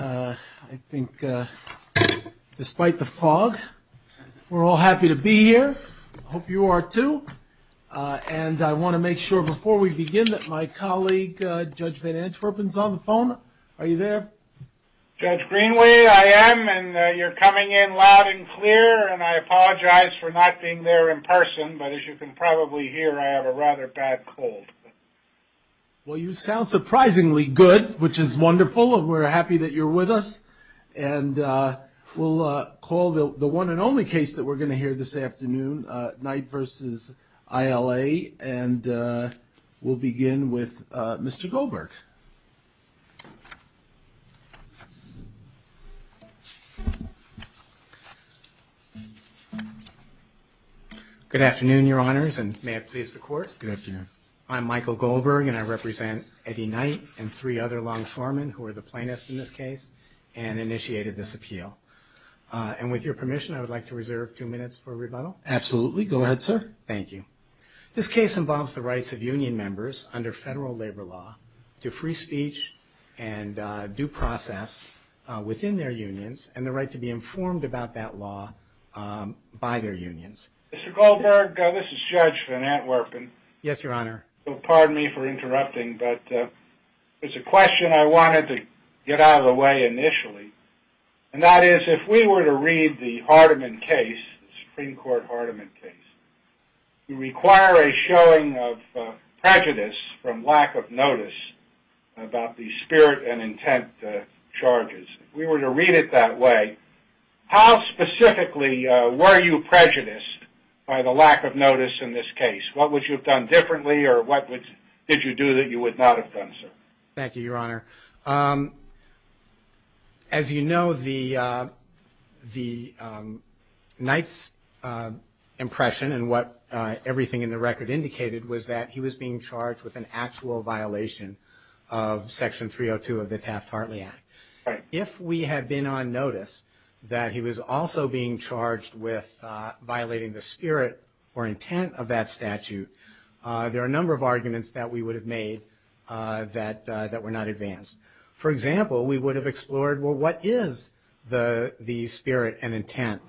I think despite the fog, we're all happy to be here. I hope you are too. And I want to make sure before we begin that my colleague, Judge Van Antwerpen, is on the phone. Are you there? Judge Greenway, I am, and you're coming in loud and clear, and I apologize for not being there in person, but as you can probably hear, I have a rather bad cold. Well, you sound surprisingly good, which is wonderful, and we're happy that you're with us. And we'll call the one and only case that we're going to hear this afternoon, Knight v. ILA, and we'll begin with Mr. Goldberg. Good afternoon, Your Honors, and may it please the Court. Good afternoon. I'm Michael Goldberg, and I represent Eddie Knight and three other longshoremen who are the plaintiffs in this case and initiated this appeal. And with your permission, I would like to reserve two minutes for rebuttal. Absolutely. Go ahead, sir. Thank you. This case involves the rights of union members under federal labor law to free speech and due process within their unions and the right to be informed about that law by their unions. Mr. Goldberg, this is Judge Van Antwerpen. Yes, Your Honor. Pardon me for interrupting, but there's a question I wanted to get out of the way initially, and that is if we were to read the Hardeman case, the Supreme Court Hardeman case, you require a showing of prejudice from lack of notice about the spirit and intent charges. If we were to read it that way, how specifically were you prejudiced by the lack of notice in this case? What would you have done differently, or what did you do that you would not have done, sir? Thank you, Your Honor. As you know, the Knight's impression and what everything in the record indicated was that he was being charged with an actual violation of Section 302 of the Taft-Hartley Act. If we had been on notice that he was also being charged with violating the spirit or intent of that statute, there are a number of arguments that we would have made that were not advanced. For example, we would have explored, well, what is the spirit and intent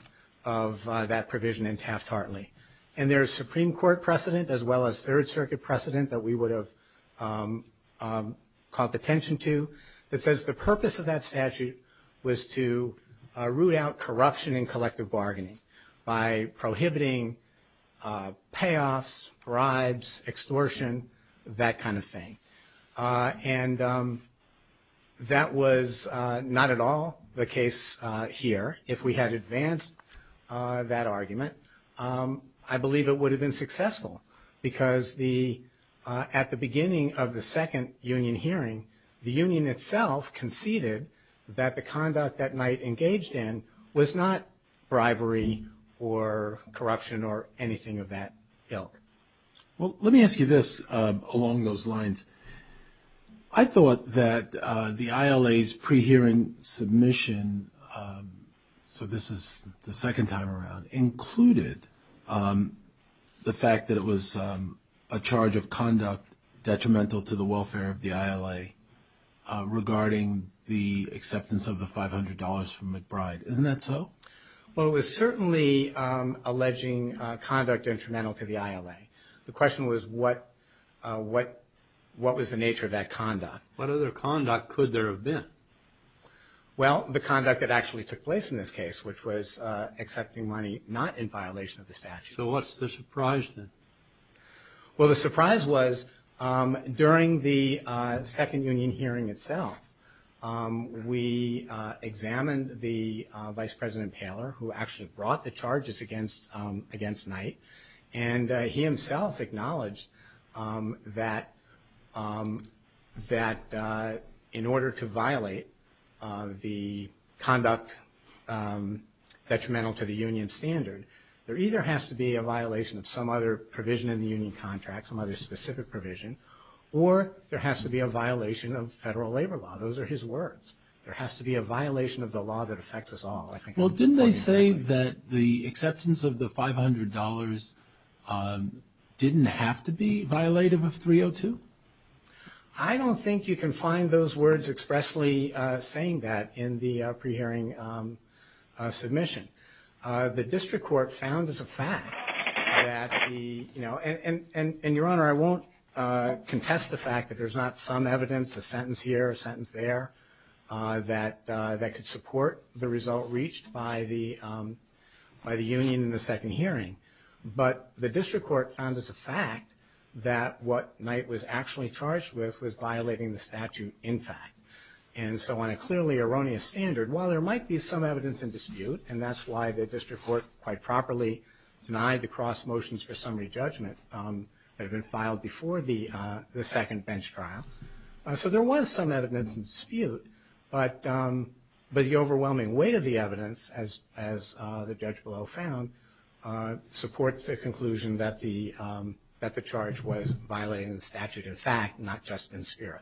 of that provision in Taft-Hartley? And there is Supreme Court precedent as well as Third Circuit precedent that we would have caught the attention to that says the purpose of that statute was to root out corruption in collective bargaining by prohibiting payoffs, bribes, extortion, that kind of thing. And that was not at all the case here. If we had advanced that argument, I believe it would have been successful because at the beginning of the second union hearing, the union itself conceded that the conduct that Knight engaged in was not bribery or corruption or anything of that ilk. Well, let me ask you this along those lines. I thought that the ILA's pre-hearing submission, so this is the second time around, included the fact that it was a charge of conduct detrimental to the welfare of the ILA regarding the acceptance of the $500 from McBride. Isn't that so? Well, it was certainly alleging conduct detrimental to the ILA. The question was what was the nature of that conduct. What other conduct could there have been? Well, the conduct that actually took place in this case, which was accepting money not in violation of the statute. So what's the surprise then? Well, the surprise was during the second union hearing itself, we examined the Vice President Poehler, who actually brought the charges against Knight, and he himself acknowledged that in order to violate the conduct detrimental to the union standard, there either has to be a violation of some other provision in the union contract, some other specific provision, or there has to be a violation of federal labor law. Those are his words. There has to be a violation of the law that affects us all. Well, didn't they say that the acceptance of the $500 didn't have to be violative of 302? I don't think you can find those words expressly saying that in the pre-hearing submission. The district court found as a fact that the, you know, and, Your Honor, I won't contest the fact that there's not some evidence, a sentence here, a sentence there, that could support the result reached by the union in the second hearing. But the district court found as a fact that what Knight was actually charged with was violating the statute in fact. And so on a clearly erroneous standard, while there might be some evidence in dispute, and that's why the district court quite properly denied the cross motions for summary judgment that had been filed before the second bench trial. So there was some evidence in dispute, but the overwhelming weight of the evidence, as the judge below found, supports the conclusion that the charge was violating the statute in fact, not just in spirit.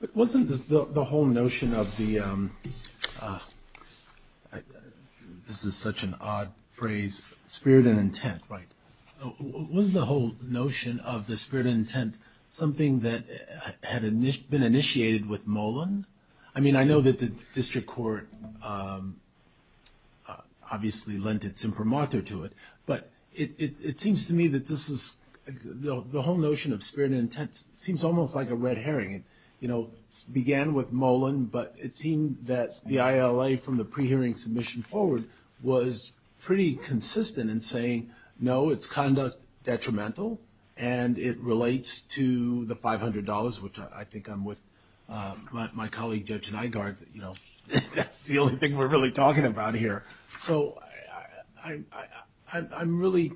But wasn't the whole notion of the, this is such an odd phrase, spirit and intent, right? Was the whole notion of the spirit and intent something that had been initiated with Molan? I mean, I know that the district court obviously lent its imprimatur to it, but it seems to me that this is, the whole notion of spirit and intent seems almost like a red herring. You know, it began with Molan, but it seemed that the ILA from the pre-hearing submission forward was pretty consistent in saying, no, it's conduct detrimental, and it relates to the $500, which I think I'm with my colleague, Judge Nygaard, that's the only thing we're really talking about here. So I'm really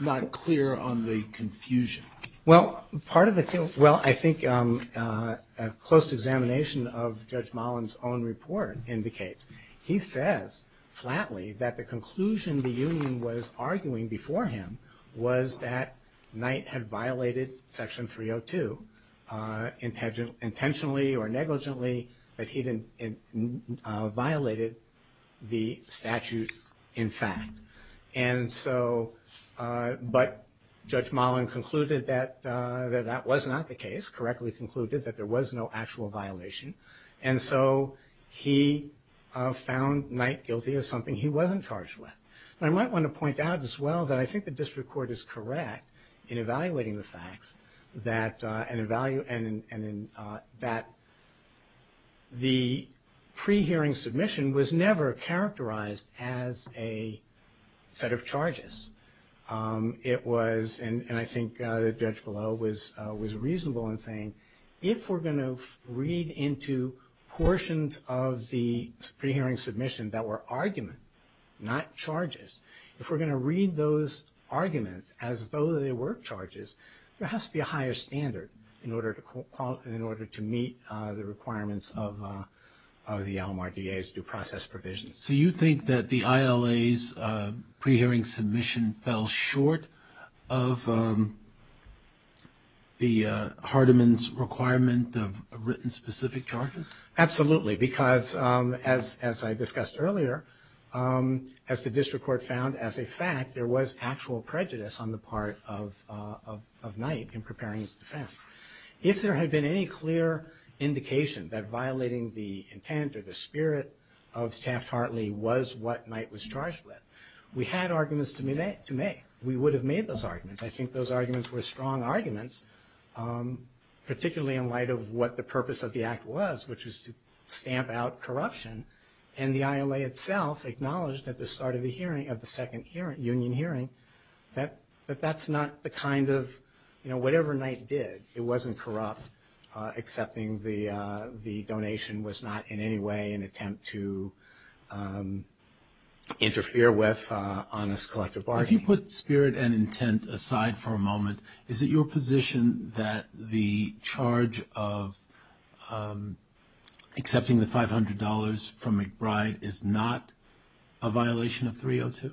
not clear on the confusion. Well, I think a close examination of Judge Molan's own report indicates, he says flatly that the conclusion the union was arguing before him was that Knight had violated Section 302 intentionally or negligently, and so, but Judge Molan concluded that that was not the case, correctly concluded that there was no actual violation, and so he found Knight guilty of something he wasn't charged with. And I might want to point out as well that I think the district court is correct in evaluating the facts, and in that the pre-hearing submission was never characterized as a set of charges. It was, and I think the judge below was reasonable in saying, if we're going to read into portions of the pre-hearing submission that were argument, not charges, if we're going to read those arguments as though they were charges, there has to be a higher standard in order to meet the requirements of the LMRDA's due process provisions. So you think that the ILA's pre-hearing submission fell short of the Hardiman's requirement of written specific charges? Absolutely, because as I discussed earlier, as the district court found as a fact, there was actual prejudice on the part of Knight in preparing his defense. If there had been any clear indication that violating the intent or the spirit of Taft-Hartley was what Knight was charged with, we had arguments to make. We would have made those arguments. I think those arguments were strong arguments, particularly in light of what the purpose of the act was, which was to stamp out corruption. And the ILA itself acknowledged at the start of the hearing, of the second union hearing, that that's not the kind of, you know, whatever Knight did. It wasn't corrupt, excepting the donation was not in any way an attempt to interfere with honest collective bargaining. If you put spirit and intent aside for a moment, is it your position that the charge of accepting the $500 from McBride is not a violation of 302?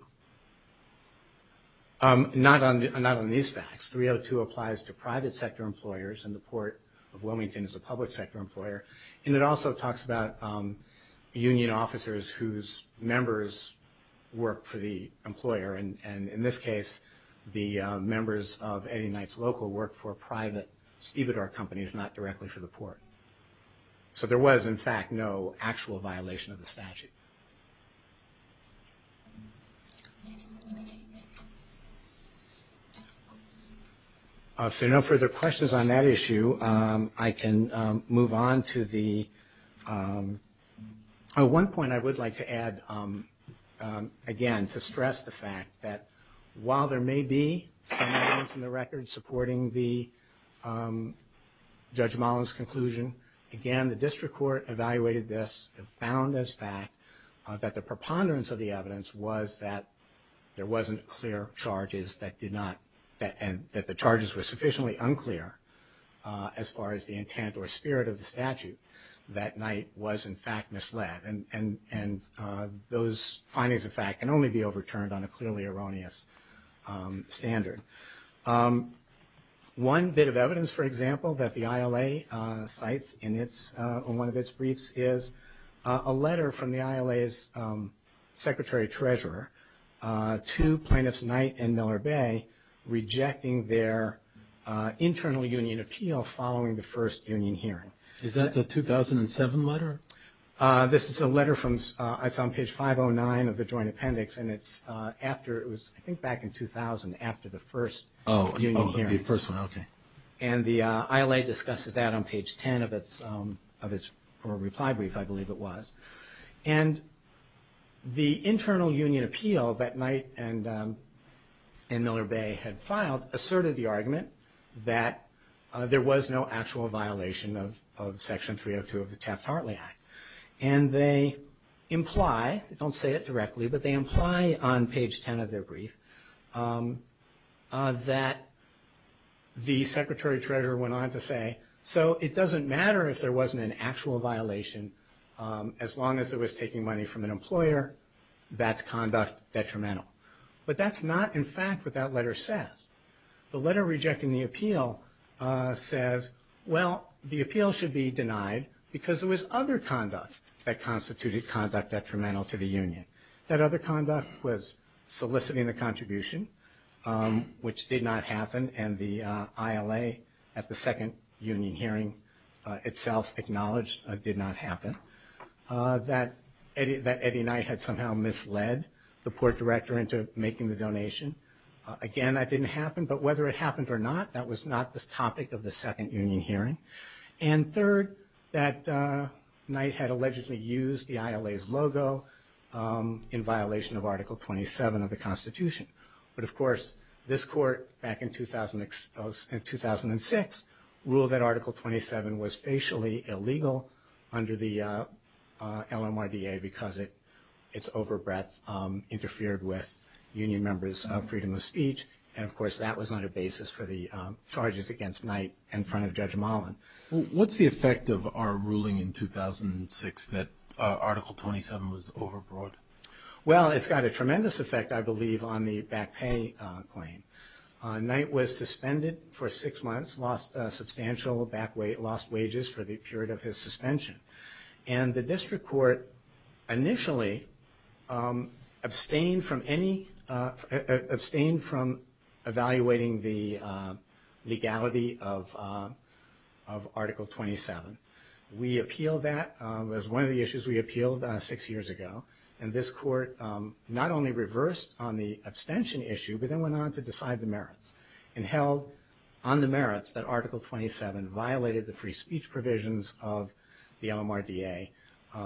Not on these facts. 302 applies to private sector employers, and the Port of Wilmington is a public sector employer. And it also talks about union officers whose members work for the employer. And in this case, the members of Eddie Knight's local work for private stevedore companies, not directly for the Port. So there was, in fact, no actual violation of the statute. So no further questions on that issue. I can move on to the one point I would like to add, again, to stress the fact that while there may be some evidence in the record supporting Judge Mullen's conclusion, again, the district court evaluated this and found as fact that the preponderance of the evidence was that there wasn't clear charges that did not, that the charges were sufficiently unclear as far as the intent or spirit of the statute. That Knight was, in fact, misled. And those findings, in fact, can only be overturned on a clearly erroneous standard. One bit of evidence, for example, that the ILA cites in its, on one of its briefs, is a letter from the ILA's secretary treasurer to plaintiffs Knight and Miller Bay rejecting their internal union appeal following the first union hearing. Is that the 2007 letter? This is a letter from, it's on page 509 of the joint appendix, and it's after, it was I think back in 2000, after the first union hearing. Oh, the first one, okay. And the ILA discusses that on page 10 of its reply brief, I believe it was. And the internal union appeal that Knight and Miller Bay had filed asserted the argument that there was no actual violation of Section 302 of the Taft-Hartley Act. And they imply, they don't say it directly, but they imply on page 10 of their brief that the secretary treasurer went on to say, so it doesn't matter if there wasn't an actual violation, as long as it was taking money from an employer, that's conduct detrimental. But that's not, in fact, what that letter says. The letter rejecting the appeal says, well, the appeal should be denied because there was other conduct that constituted conduct detrimental to the union. That other conduct was soliciting a contribution, which did not happen, and the ILA at the second union hearing itself acknowledged it did not happen, that Eddie Knight had somehow misled the port director into making the donation. Again, that didn't happen, but whether it happened or not, that was not the topic of the second union hearing. And third, that Knight had allegedly used the ILA's logo in violation of Article 27 of the Constitution. But, of course, this court, back in 2006, ruled that Article 27 was facially illegal under the LMRDA because its overbreadth interfered with union members' freedom of speech. And, of course, that was not a basis for the charges against Knight in front of Judge Mullen. What's the effect of our ruling in 2006 that Article 27 was overbroad? Well, it's got a tremendous effect, I believe, on the back pay claim. Knight was suspended for six months, lost substantial back weight, lost wages for the period of his suspension. And the district court initially abstained from evaluating the legality of Article 27. We appealed that. It was one of the issues we appealed six years ago. And this court not only reversed on the abstention issue, but then went on to decide the merits and held on the merits that Article 27 violated the free speech provisions of the LMRDA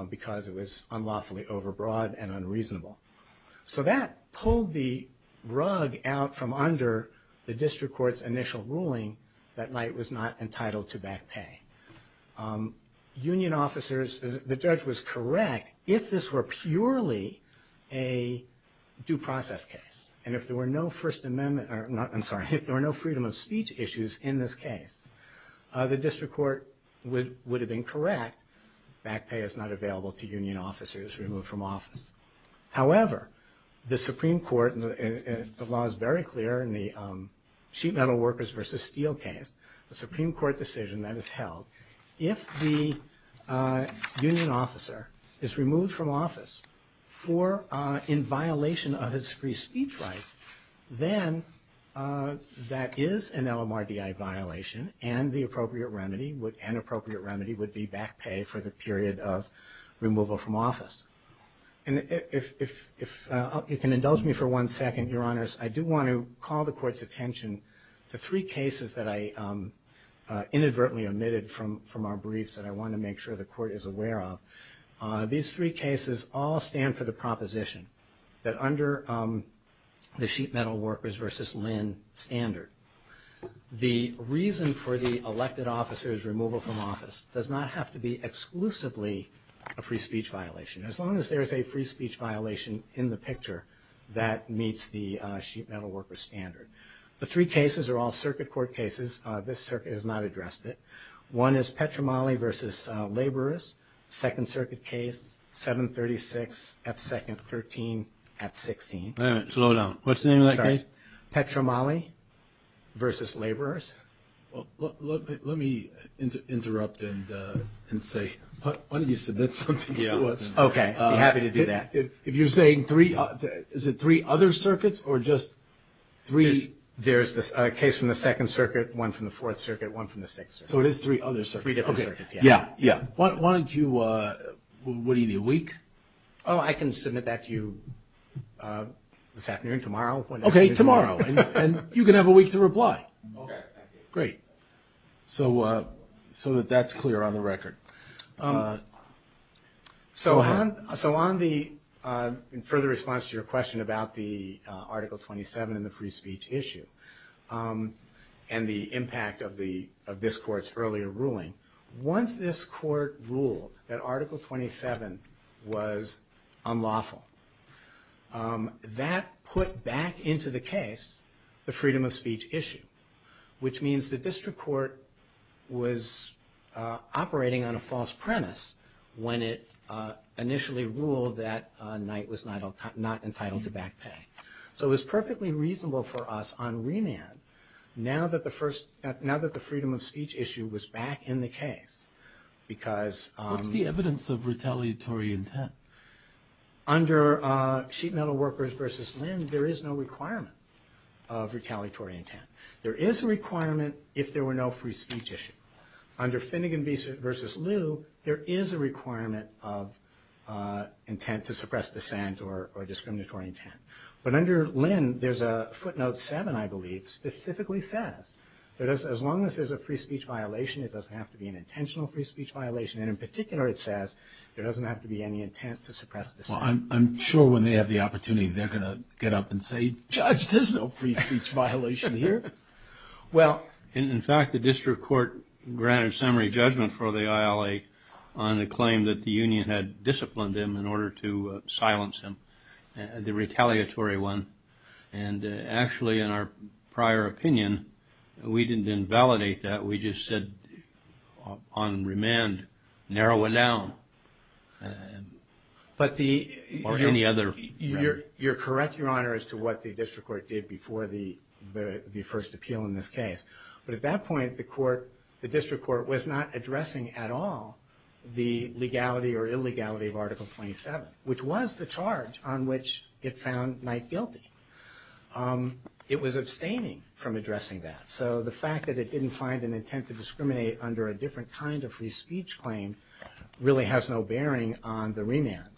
because it was unlawfully overbroad and unreasonable. So that pulled the rug out from under the district court's initial ruling that Knight was not entitled to back pay. Union officers, the judge was correct, if this were purely a due process case, and if there were no freedom of speech issues in this case, the district court would have been correct. Back pay is not available to union officers removed from office. However, the Supreme Court, the law is very clear in the sheet metal workers versus steel case, the Supreme Court decision that is held, if the union officer is removed from office in violation of his free speech rights, then that is an LMRDA violation and the appropriate remedy would be back pay for the period of removal from office. And if you can indulge me for one second, Your Honors, I do want to call the court's attention to three cases that I inadvertently omitted from our briefs that I want to make sure the court is aware of. These three cases all stand for the proposition that under the sheet metal workers versus LIN standard, the reason for the elected officer's removal from office does not have to be exclusively a free speech violation. As long as there is a free speech violation in the picture, that meets the sheet metal workers standard. The three cases are all circuit court cases. This circuit has not addressed it. One is Petromali versus laborers. Second circuit case, 736 at second, 13 at 16. All right, slow down. What's the name of that case? Petromali versus laborers. Let me interrupt and say, why don't you submit something to us? Okay, I'd be happy to do that. If you're saying three, is it three other circuits or just three? There's a case from the second circuit, one from the fourth circuit, one from the sixth. So it is three other circuits. Three different circuits, yeah. Yeah, yeah. Why don't you, what do you need, a week? Oh, I can submit that to you this afternoon, tomorrow. Okay, tomorrow. And you can have a week to reply. Great. So that that's clear on the record. So on the, in further response to your question about the Article 27 and the free speech issue and the impact of this court's earlier ruling, once this court ruled that Article 27 was unlawful, that put back into the case the freedom of speech issue, which means the district court was operating on a false premise when it initially ruled that a knight was not entitled to back pay. So it was perfectly reasonable for us on remand, now that the freedom of speech issue was back in the case, because... What's the evidence of retaliatory intent? Under Sheet Metal Workers v. Lynn, there is no requirement of retaliatory intent. There is a requirement if there were no free speech issue. Under Finnegan v. Liu, there is a requirement of intent to suppress dissent or discriminatory intent. But under Lynn, there's a footnote 7, I believe, specifically says that as long as there's a free speech violation, it doesn't have to be an intentional free speech violation. And in particular, it says there doesn't have to be any intent to suppress dissent. Well, I'm sure when they have the opportunity, they're going to get up and say, Judge, there's no free speech violation here. Well... In fact, the district court granted summary judgment for the ILA on the claim that the union had disciplined him in order to silence him, the retaliatory one. And actually, in our prior opinion, we didn't invalidate that. We just said on remand, narrow it down. But the... Or any other... You're correct, Your Honor, as to what the district court did before the first appeal in this case. But at that point, the district court was not addressing at all the legality or illegality of Article 27, which was the charge on which it found Knight guilty. It was abstaining from addressing that. So the fact that it didn't find an intent to discriminate under a different kind of free speech claim really has no bearing on the remand.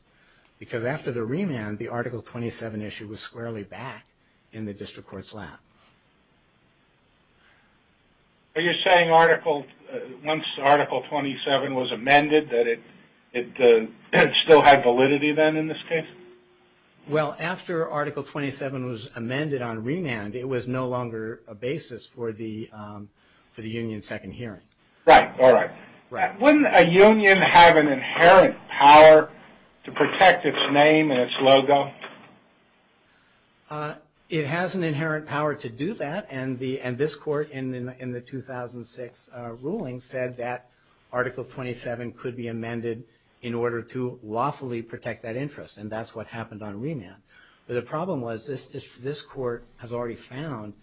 Because after the remand, the Article 27 issue was squarely back in the district court's lap. Are you saying once Article 27 was amended, that it still had validity then in this case? Well, after Article 27 was amended on remand, it was no longer a basis for the union's second hearing. Right, all right. Wouldn't a union have an inherent power to protect its name and its logo? It has an inherent power to do that, and this court in the 2006 ruling said that Article 27 could be amended in order to lawfully protect that interest, and that's what happened on remand. But the problem was this court has already found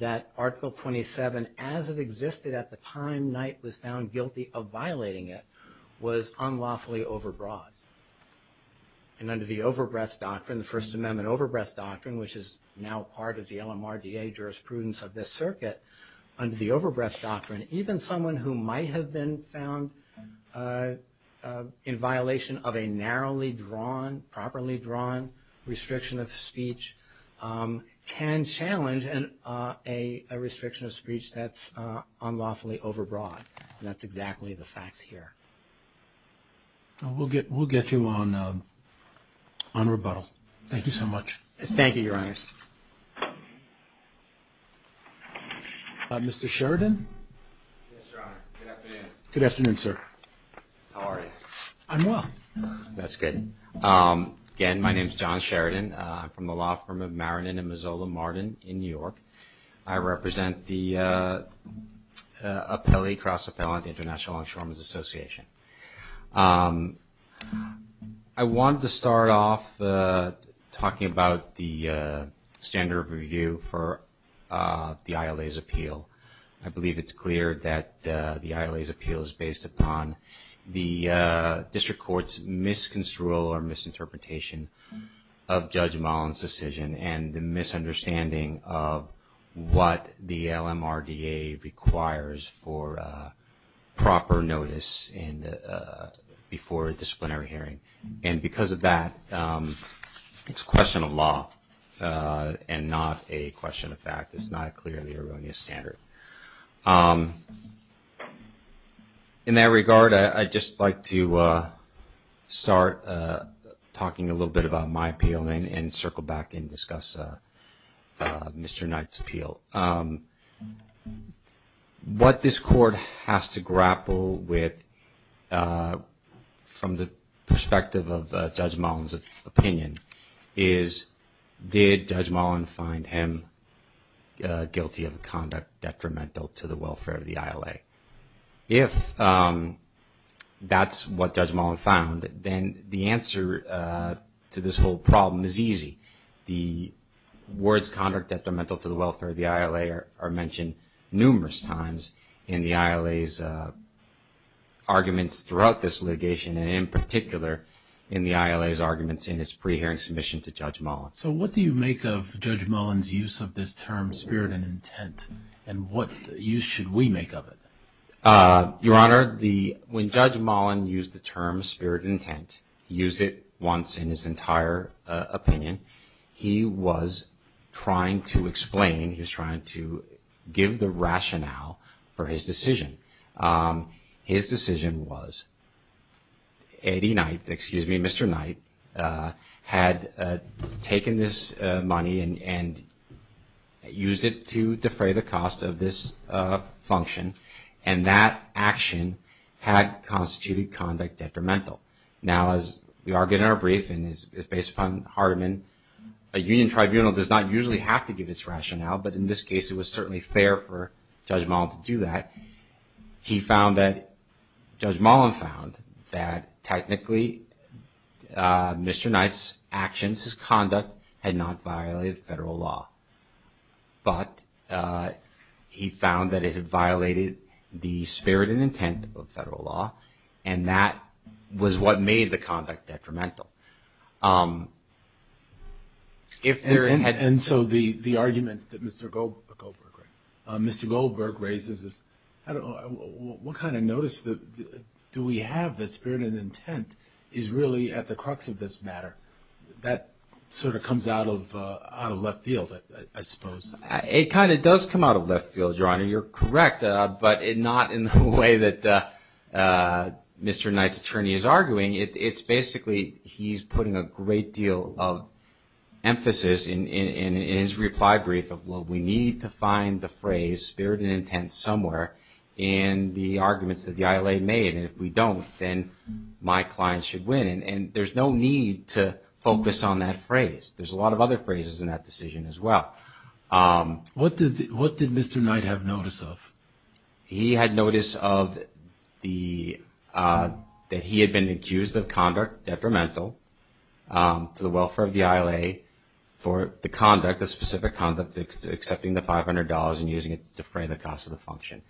that Article 27, as it existed at the time Knight was found guilty of violating it, was unlawfully over-broad. And under the over-breath doctrine, the First Amendment over-breath doctrine, which is now part of the LMRDA jurisprudence of this circuit, under the over-breath doctrine, even someone who might have been found in violation of a narrowly drawn, properly drawn restriction of speech can challenge a restriction of speech that's unlawfully over-broad, and that's exactly the facts here. We'll get you on rebuttal. Thank you so much. Thank you, Your Honors. Mr. Sheridan? Yes, Your Honor. Good afternoon. Good afternoon, sir. How are you? I'm well. That's good. Again, my name is John Sheridan. I'm from the law firm of Marinin & Mazzola-Martin in New York. I represent the Cross-Appellant International Insurance Association. I wanted to start off talking about the standard of review for the ILA's appeal. I believe it's clear that the ILA's appeal is based upon the district court's misconstrual or misinterpretation of Judge Mullen's decision and the misunderstanding of what the LMRDA requires for proper notice before a disciplinary hearing. And because of that, it's a question of law and not a question of fact. It's not a clearly erroneous standard. In that regard, I'd just like to start talking a little bit about my appeal and circle back and discuss Mr. Knight's appeal. What this court has to grapple with from the perspective of Judge Mullen's opinion is did Judge Mullen find him guilty of conduct detrimental to the welfare of the ILA? If that's what Judge Mullen found, then the answer to this whole problem is easy. The words conduct detrimental to the welfare of the ILA are mentioned numerous times in the ILA's arguments throughout this litigation, and in particular in the ILA's arguments in its pre-hearing submission to Judge Mullen. So what do you make of Judge Mullen's use of this term, spirit and intent, and what use should we make of it? Your Honor, when Judge Mullen used the term spirit and intent, he used it once in his entire opinion, he was trying to explain, he was trying to give the rationale for his decision. His decision was Eddie Knight, excuse me, Mr. Knight, had taken this money and used it to defray the cost of this function, and that action had constituted conduct detrimental. Now, as we argue in our brief, and it's based upon Hardeman, a union tribunal does not usually have to give its rationale, but in this case it was certainly fair for Judge Mullen to do that. He found that, Judge Mullen found that technically Mr. Knight's actions, his conduct had not violated federal law, but he found that it had violated the spirit and intent of federal law, and that was what made the conduct detrimental. And so the argument that Mr. Goldberg raises is what kind of notice do we have that spirit and intent is really at the crux of this matter? That sort of comes out of left field, I suppose. It kind of does come out of left field, Your Honor, you're correct, but not in the way that Mr. Knight's attorney is arguing. It's basically he's putting a great deal of emphasis in his reply brief of, well, we need to find the phrase spirit and intent somewhere in the arguments that the ILA made, and if we don't, then my client should win, and there's no need to focus on that phrase. There's a lot of other phrases in that decision as well. What did Mr. Knight have notice of? He had notice that he had been accused of conduct detrimental to the welfare of the ILA for the specific conduct of accepting the $500 and using it to defray the cost of the function.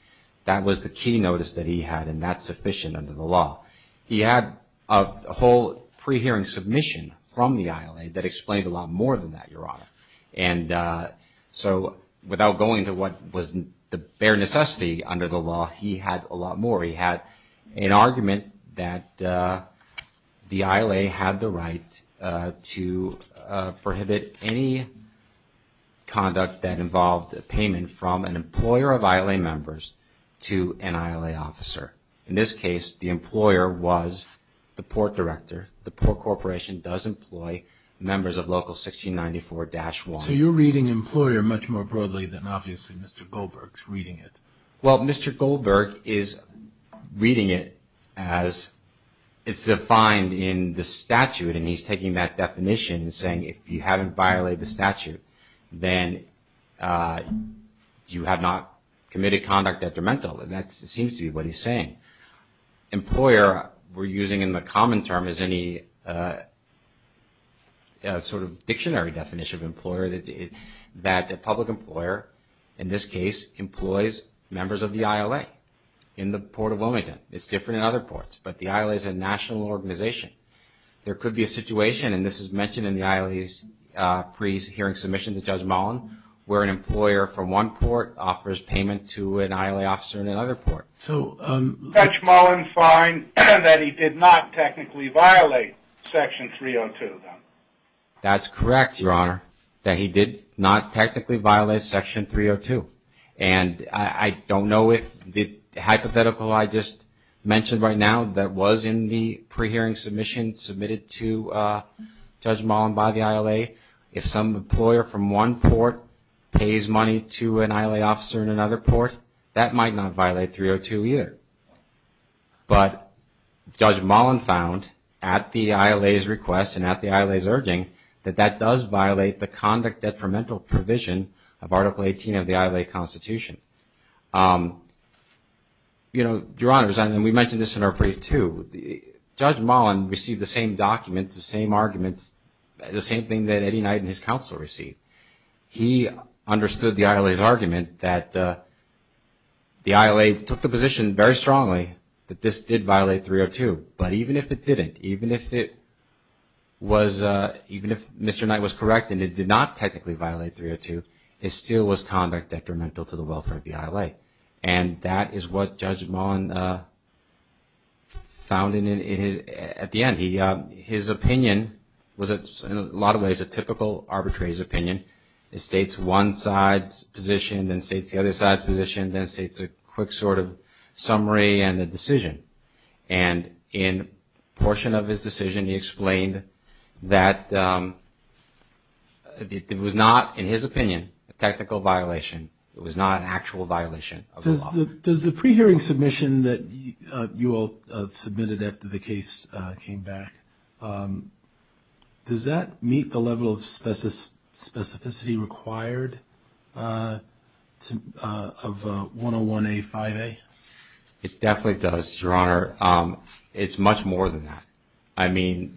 That was the key notice that he had, and that's sufficient under the law. He had a whole pre-hearing submission from the ILA that explained a lot more than that, Your Honor. And so without going to what was the bare necessity under the law, he had a lot more. He had an argument that the ILA had the right to prohibit any conduct that involved a payment from an employer of ILA members to an ILA officer. In this case, the employer was the port director. The port corporation does employ members of Local 1694-1. So you're reading employer much more broadly than obviously Mr. Goldberg's reading it. Well, Mr. Goldberg is reading it as it's defined in the statute, and he's taking that definition and saying if you haven't violated the statute, then you have not committed conduct detrimental, and that seems to be what he's saying. Employer, we're using in the common term as any sort of dictionary definition of employer, that a public employer in this case employs members of the ILA in the Port of Wilmington. It's different in other ports, but the ILA is a national organization. There could be a situation, and this is mentioned in the ILA's pre-hearing submission to Judge Mullen, where an employer from one port offers payment to an ILA officer in another port. Judge Mullen finds that he did not technically violate Section 302. That's correct, Your Honor, that he did not technically violate Section 302. I don't know if the hypothetical I just mentioned right now that was in the pre-hearing submission submitted to Judge Mullen by the ILA, if some employer from one port pays money to an ILA officer in another port, that might not violate 302 either. But Judge Mullen found at the ILA's request and at the ILA's urging that that does violate the conduct detrimental provision of Article 18 of the ILA Constitution. You know, Your Honors, and we mentioned this in our brief too, Judge Mullen received the same documents, the same arguments, the same thing that Eddie Knight and his counsel received. He understood the ILA's argument that the ILA took the position very strongly that this did violate 302, but even if it didn't, even if Mr. Knight was correct and it did not technically violate 302, it still was conduct detrimental to the welfare of the ILA. And that is what Judge Mullen found at the end. His opinion was, in a lot of ways, a typical arbitrator's opinion. It states one side's position, then states the other side's position, then states a quick sort of summary and a decision. And in a portion of his decision, he explained that it was not, in his opinion, a technical violation. It was not an actual violation of the law. Does the pre-hearing submission that you all submitted after the case came back, does that meet the level of specificity required of 101A-5A? It definitely does, Your Honor. It's much more than that. I mean,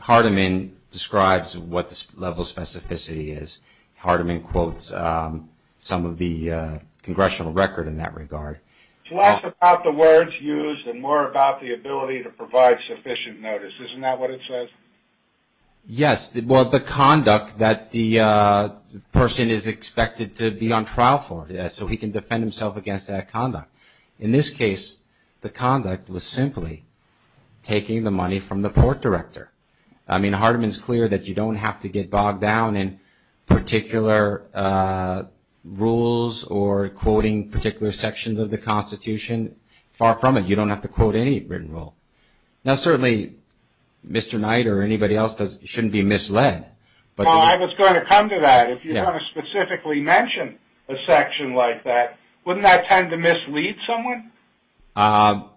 Hardiman describes what the level of specificity is. Hardiman quotes some of the congressional record in that regard. It's less about the words used and more about the ability to provide sufficient notice. Isn't that what it says? Yes. Well, the conduct that the person is expected to be on trial for, so he can defend himself against that conduct. In this case, the conduct was simply taking the money from the port director. I mean, Hardiman's clear that you don't have to get bogged down in particular rules or quoting particular sections of the Constitution. Far from it. You don't have to quote any written rule. Now, certainly, Mr. Knight or anybody else shouldn't be misled. Well, I was going to come to that. If you're going to specifically mention a section like that, wouldn't that tend to mislead someone?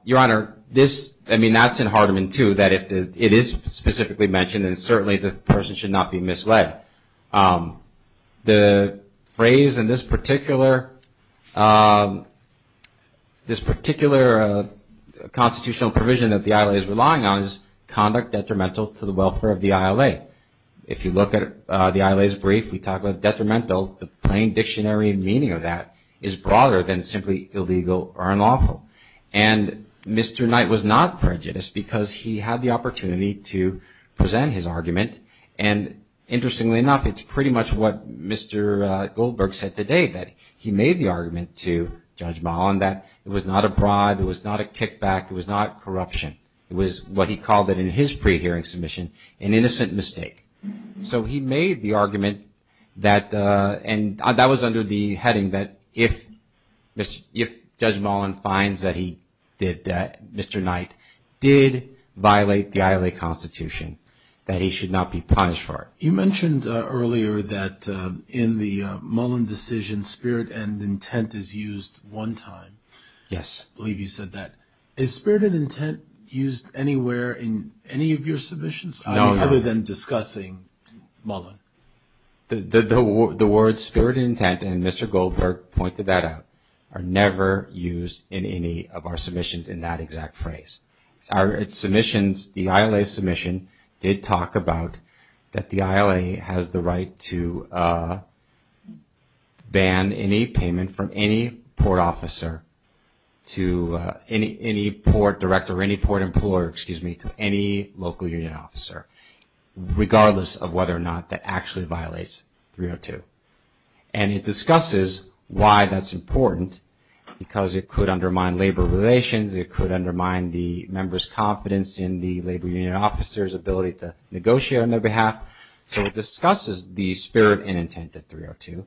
Your Honor, I mean, that's in Hardiman, too, that it is specifically mentioned, and certainly the person should not be misled. The phrase in this particular constitutional provision that the ILA is relying on is conduct detrimental to the welfare of the ILA. If you look at the ILA's brief, we talk about detrimental. The plain dictionary meaning of that is broader than simply illegal or unlawful. And Mr. Knight was not prejudiced because he had the opportunity to present his argument. And interestingly enough, it's pretty much what Mr. Goldberg said today, that he made the argument to Judge Mullen that it was not a bribe, it was not a kickback, it was not corruption. It was what he called it in his pre-hearing submission, an innocent mistake. So he made the argument that, and that was under the heading that if Judge Mullen finds that he did that, Mr. Knight did violate the ILA Constitution, that he should not be punished for it. You mentioned earlier that in the Mullen decision, spirit and intent is used one time. Yes. I believe you said that. Is spirit and intent used anywhere in any of your submissions? No, no. Other than discussing Mullen. The words spirit and intent, and Mr. Goldberg pointed that out, are never used in any of our submissions in that exact phrase. Our submissions, the ILA submission did talk about that the ILA has the right to ban any payment from any port officer to any port director or any port employer, excuse me, to any local union officer, regardless of whether or not that actually violates 302. And it discusses why that's important, because it could undermine labor relations, it could undermine the member's confidence in the labor union officer's ability to negotiate on their behalf. So it discusses the spirit and intent of 302,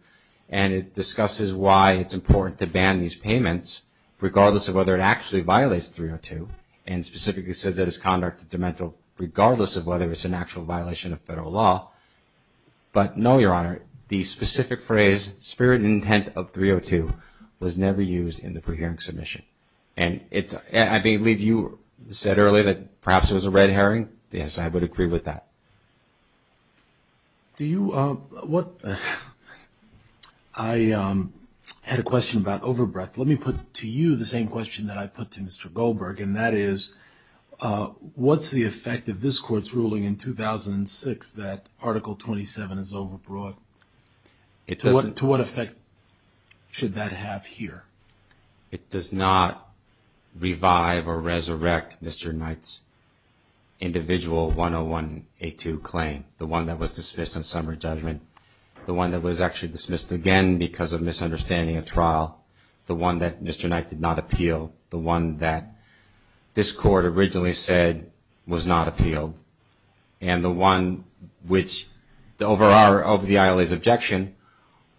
and it discusses why it's important to ban these payments regardless of whether it actually violates 302, and specifically says that it's conduct is demential regardless of whether it's an actual violation of federal law. But no, Your Honor, the specific phrase spirit and intent of 302 was never used in the pre-hearing submission. And I believe you said earlier that perhaps it was a red herring. Yes, I would agree with that. I had a question about overbreadth. Let me put to you the same question that I put to Mr. Goldberg, and that is what's the effect of this court's ruling in 2006 that Article 27 is overbroad? To what effect should that have here? It does not revive or resurrect Mr. Knight's individual 101A2 claim, the one that was dismissed on summary judgment, the one that was actually dismissed again because of misunderstanding of trial, the one that Mr. Knight did not appeal, the one that this court originally said was not appealed, and the one which, over the ILA's objection,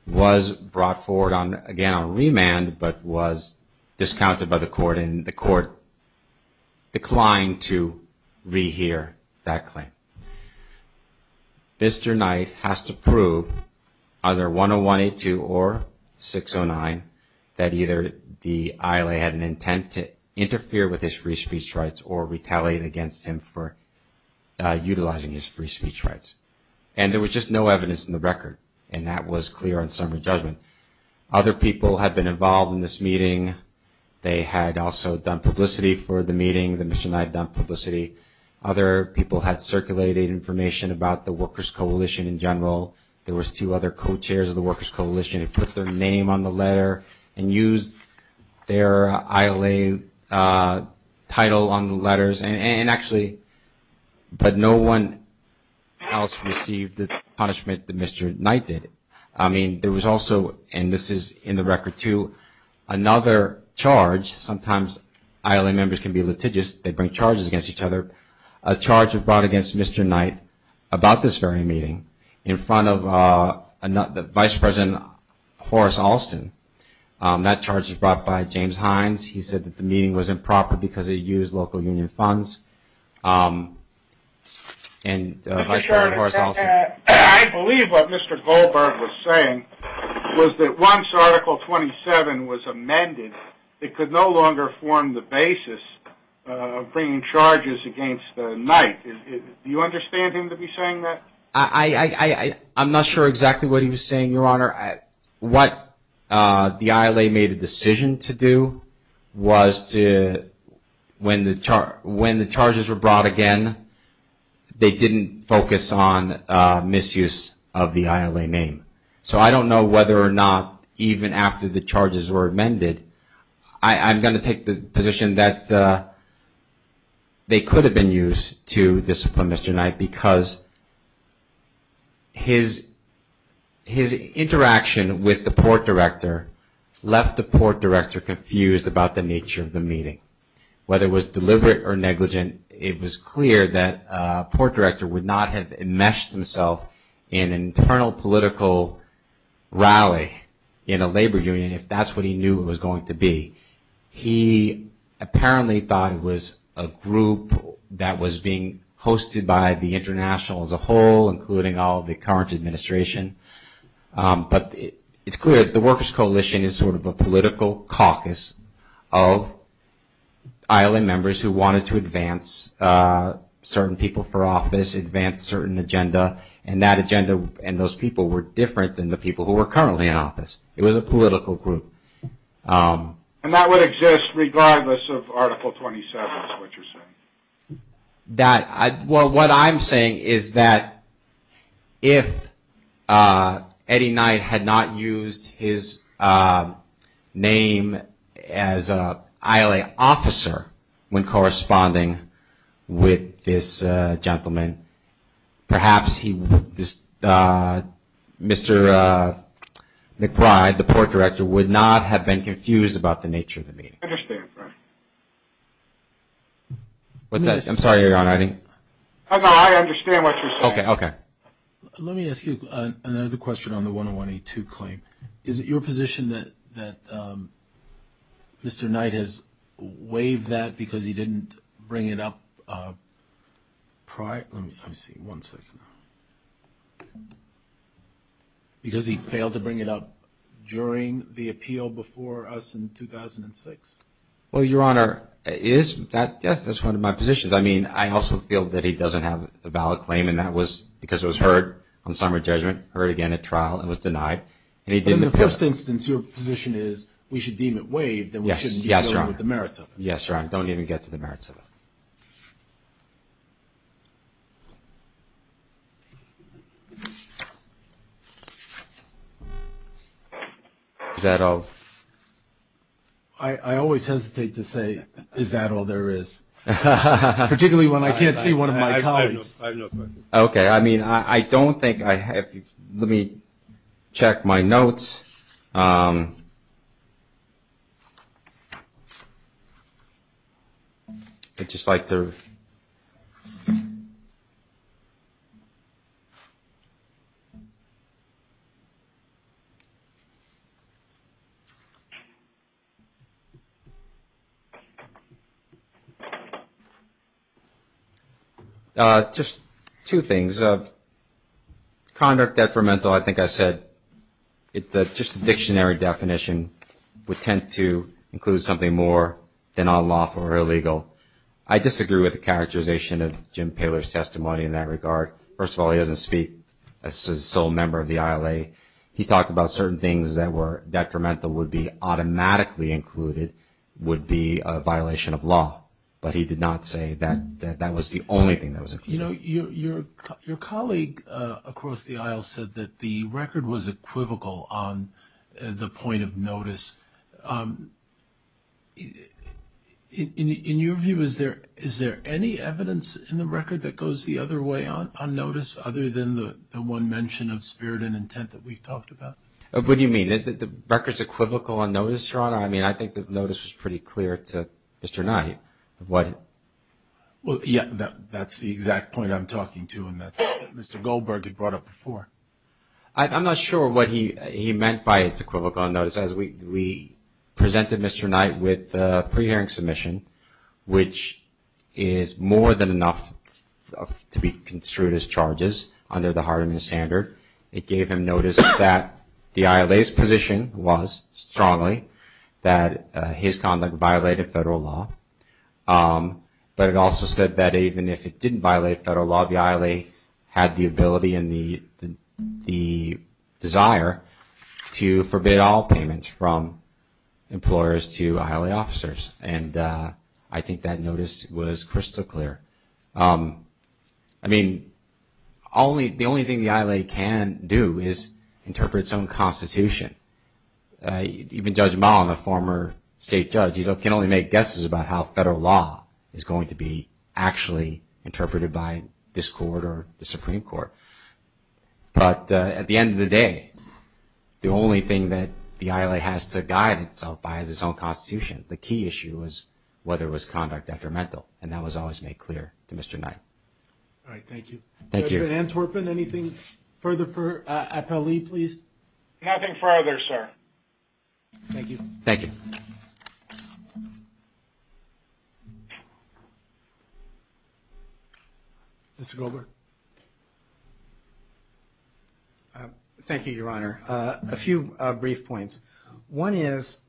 was brought forward again on remand, but was discounted by the court, and the court declined to rehear that claim. Mr. Knight has to prove either 101A2 or 609 that either the ILA had an intent to interfere with his free speech rights or retaliate against him for utilizing his free speech rights. And there was just no evidence in the record, and that was clear on summary judgment. Other people had been involved in this meeting. They had also done publicity for the meeting that Mr. Knight had done publicity. Other people had circulated information about the Workers' Coalition in general. There was two other co-chairs of the Workers' Coalition. They put their name on the letter and used their ILA title on the letters. And actually, but no one else received the punishment that Mr. Knight did. I mean, there was also, and this is in the record too, another charge. Sometimes ILA members can be litigious. They bring charges against each other. A charge was brought against Mr. Knight about this very meeting in front of Vice President Horace Alston. That charge was brought by James Hines. He said that the meeting was improper because they used local union funds. I believe what Mr. Goldberg was saying was that once Article 27 was amended, it could no longer form the basis of bringing charges against Knight. Do you understand him to be saying that? I'm not sure exactly what he was saying, Your Honor. What the ILA made a decision to do was to, when the charges were brought again, they didn't focus on misuse of the ILA name. So I don't know whether or not even after the charges were amended, I'm going to take the position that they could have been used to discipline Mr. Knight because his interaction with the Port Director left the Port Director confused about the nature of the meeting. Whether it was deliberate or negligent, it was clear that Port Director would not have enmeshed himself in an internal political rally in a labor union if that's what he knew it was going to be. He apparently thought it was a group that was being hosted by the international as a whole, including all of the current administration. But it's clear that the Workers' Coalition is sort of a political caucus of ILA members who wanted to advance certain people for office, advance certain agenda, and that agenda and those people were different than the people who were currently in office. It was a political group. And that would exist regardless of Article 27, is what you're saying? Well, what I'm saying is that if Eddie Knight had not used his name as an ILA officer when corresponding with this gentleman, perhaps Mr. McBride, the Port Director, would not have been confused about the nature of the meeting. I understand, Frank. What's that? I'm sorry, Your Honor. I understand what you're saying. Okay. Let me ask you another question on the 101A2 claim. Is it your position that Mr. Knight has waived that because he didn't bring it up prior? Let me see. One second. Because he failed to bring it up during the appeal before us in 2006? Well, Your Honor, yes, that's one of my positions. I mean, I also feel that he doesn't have a valid claim, and that was because it was heard on summary judgment, heard again at trial, and was denied. But in the first instance, your position is we should deem it waived and we shouldn't be dealing with the merits of it. Yes, Your Honor. Don't even get to the merits of it. Thank you. Is that all? I always hesitate to say, is that all there is, particularly when I can't see one of my colleagues. I have no question. Okay. I mean, I don't think I have. Let me check my notes. Okay. I'd just like to. Just two things. There's a conduct detrimental, I think I said. It's just a dictionary definition. We tend to include something more than unlawful or illegal. I disagree with the characterization of Jim Paler's testimony in that regard. First of all, he doesn't speak as a sole member of the ILA. He talked about certain things that were detrimental would be automatically included would be a violation of law, but he did not say that that was the only thing that was included. You know, your colleague across the aisle said that the record was equivocal on the point of notice. In your view, is there any evidence in the record that goes the other way on notice, other than the one mention of spirit and intent that we talked about? What do you mean? The record's equivocal on notice, Your Honor? I mean, I think the notice was pretty clear to Mr. Naheed. Well, yeah, that's the exact point I'm talking to, and that's what Mr. Goldberg had brought up before. I'm not sure what he meant by it's equivocal on notice. As we presented Mr. Knight with a pre-hearing submission, which is more than enough to be construed as charges under the Hardeman Standard. It gave him notice that the ILA's position was strongly that his conduct violated federal law. But it also said that even if it didn't violate federal law, the ILA had the ability and the desire to forbid all payments from employers to ILA officers. And I think that notice was crystal clear. I mean, the only thing the ILA can do is interpret its own constitution. Even Judge Mullen, a former state judge, he can only make guesses about how federal law is going to be actually interpreted by this court or the Supreme Court. But at the end of the day, the only thing that the ILA has to guide itself by is its own constitution. The key issue was whether it was conduct detrimental, and that was always made clear to Mr. Knight. All right. Thank you. Thank you. Judge Van Antwerpen, anything further for Appellee, please? Nothing further, sir. Thank you. Thank you. Mr. Goldberg. Thank you, Your Honor. A few brief points. One is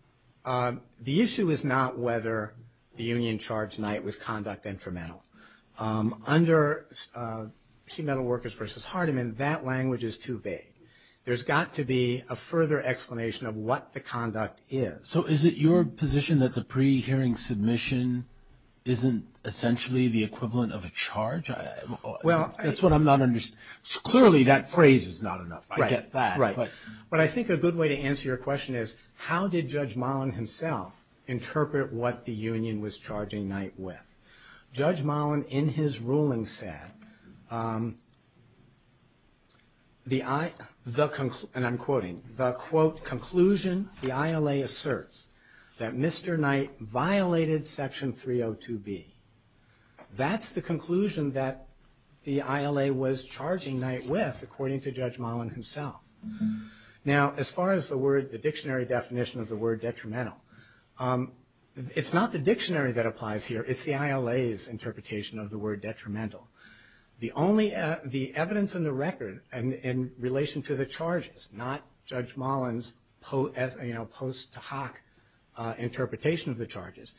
the issue is not whether the union charged Knight with conduct detrimental. Under Sheet Metal Workers v. Hardeman, that language is too vague. There's got to be a further explanation of what the conduct is. So is it your position that the pre-hearing submission isn't essentially the equivalent of a charge? That's what I'm not understanding. Clearly, that phrase is not enough. I get that. Right. But I think a good way to answer your question is how did Judge Mullen himself interpret what the union was charging Knight with? Judge Mullen, in his ruling, said, and I'm quoting, the, quote, conclusion the ILA asserts that Mr. Knight violated Section 302B. That's the conclusion that the ILA was charging Knight with, according to Judge Mullen himself. Now, as far as the dictionary definition of the word detrimental, it's not the dictionary that applies here. It's the ILA's interpretation of the word detrimental. The evidence in the record in relation to the charges, not Judge Mullen's post hoc interpretation of the charges,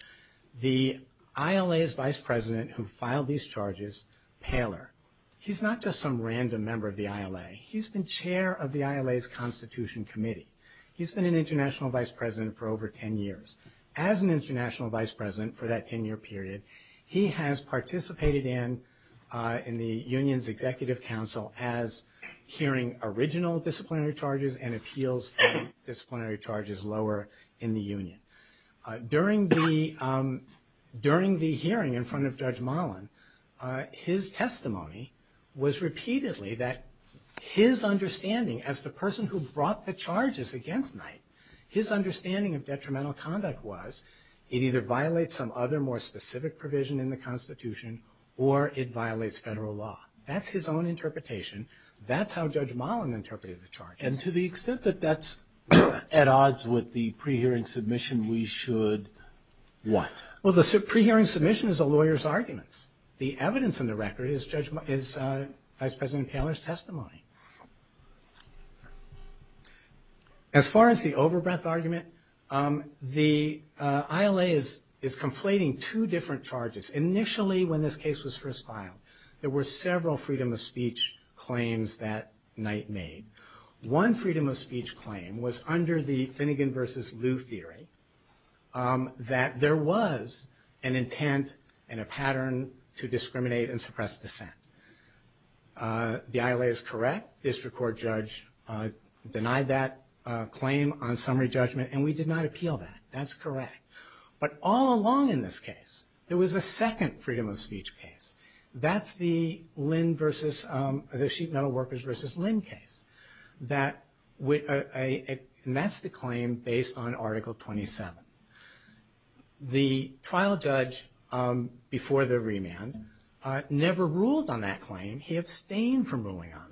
the ILA's vice president who filed these charges, Paler, he's not just some random member of the ILA. He's been chair of the ILA's Constitution Committee. He's been an international vice president for over 10 years. As an international vice president for that 10-year period, he has participated in the union's executive council as hearing original disciplinary charges and appeals for disciplinary charges lower in the union. During the hearing in front of Judge Mullen, his testimony was repeatedly that his understanding as the person who brought the charges against Knight, his understanding of detrimental conduct was it either violates some other more specific provision in the Constitution or it violates federal law. That's his own interpretation. That's how Judge Mullen interpreted the charges. And to the extent that that's at odds with the pre-hearing submission, we should what? Well, the pre-hearing submission is a lawyer's arguments. The evidence in the record is Vice President Paler's testimony. As far as the over-breath argument, the ILA is conflating two different charges. Initially, when this case was first filed, there were several freedom of speech claims that Knight made. One freedom of speech claim was under the Finnegan versus Liu theory, that there was an intent and a pattern to discriminate and suppress dissent. The ILA is correct. District Court judge denied that claim on summary judgment, and we did not appeal that. That's correct. But all along in this case, there was a second freedom of speech case. That's the sheet metal workers versus Lynn case. And that's the claim based on Article 27. The trial judge before the remand never ruled on that claim. He abstained from ruling on it.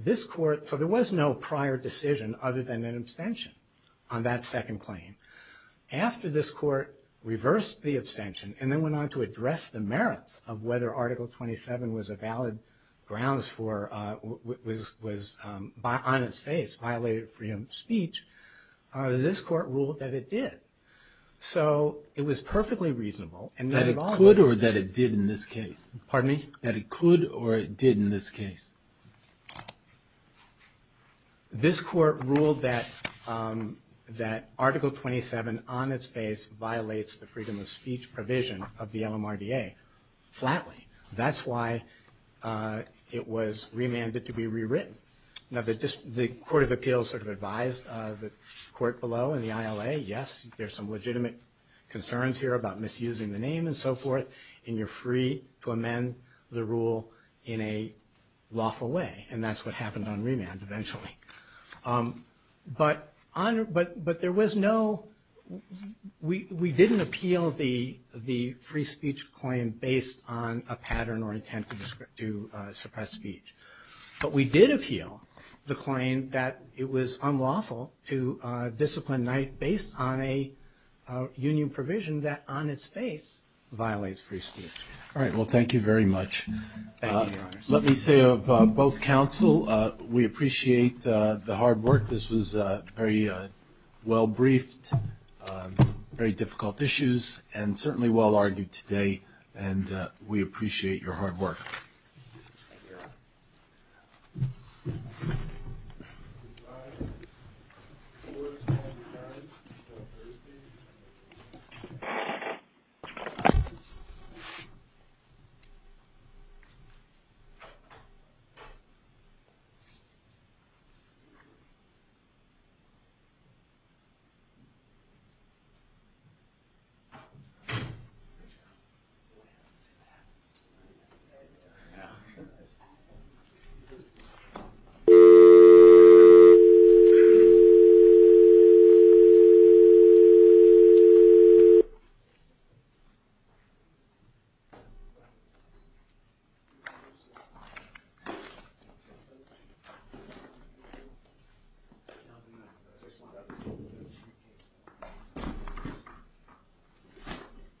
This court, so there was no prior decision other than an abstention on that second claim. After this court reversed the abstention and then went on to address the merits of whether Article 27 was a valid grounds for, was on its face, violated freedom of speech, this court ruled that it did. So it was perfectly reasonable. That it could or that it did in this case? Pardon me? That it could or it did in this case? This court ruled that Article 27 on its face violates the freedom of speech provision of the LMRDA flatly. That's why it was remanded to be rewritten. Now, the Court of Appeals sort of advised the court below in the ILA, yes, there's some legitimate concerns here about misusing the name and so forth. And you're free to amend the rule in a lawful way. And that's what happened on remand eventually. But there was no, we didn't appeal the free speech claim based on a pattern or intent to suppress speech. But we did appeal the claim that it was unlawful to discipline Knight based on a union provision that on its face violates free speech. All right, well, thank you very much. Let me say of both counsel, we appreciate the hard work. This was very well briefed, very difficult issues, and certainly well argued today. And we appreciate your hard work. Thank you. Thank you. Thank you.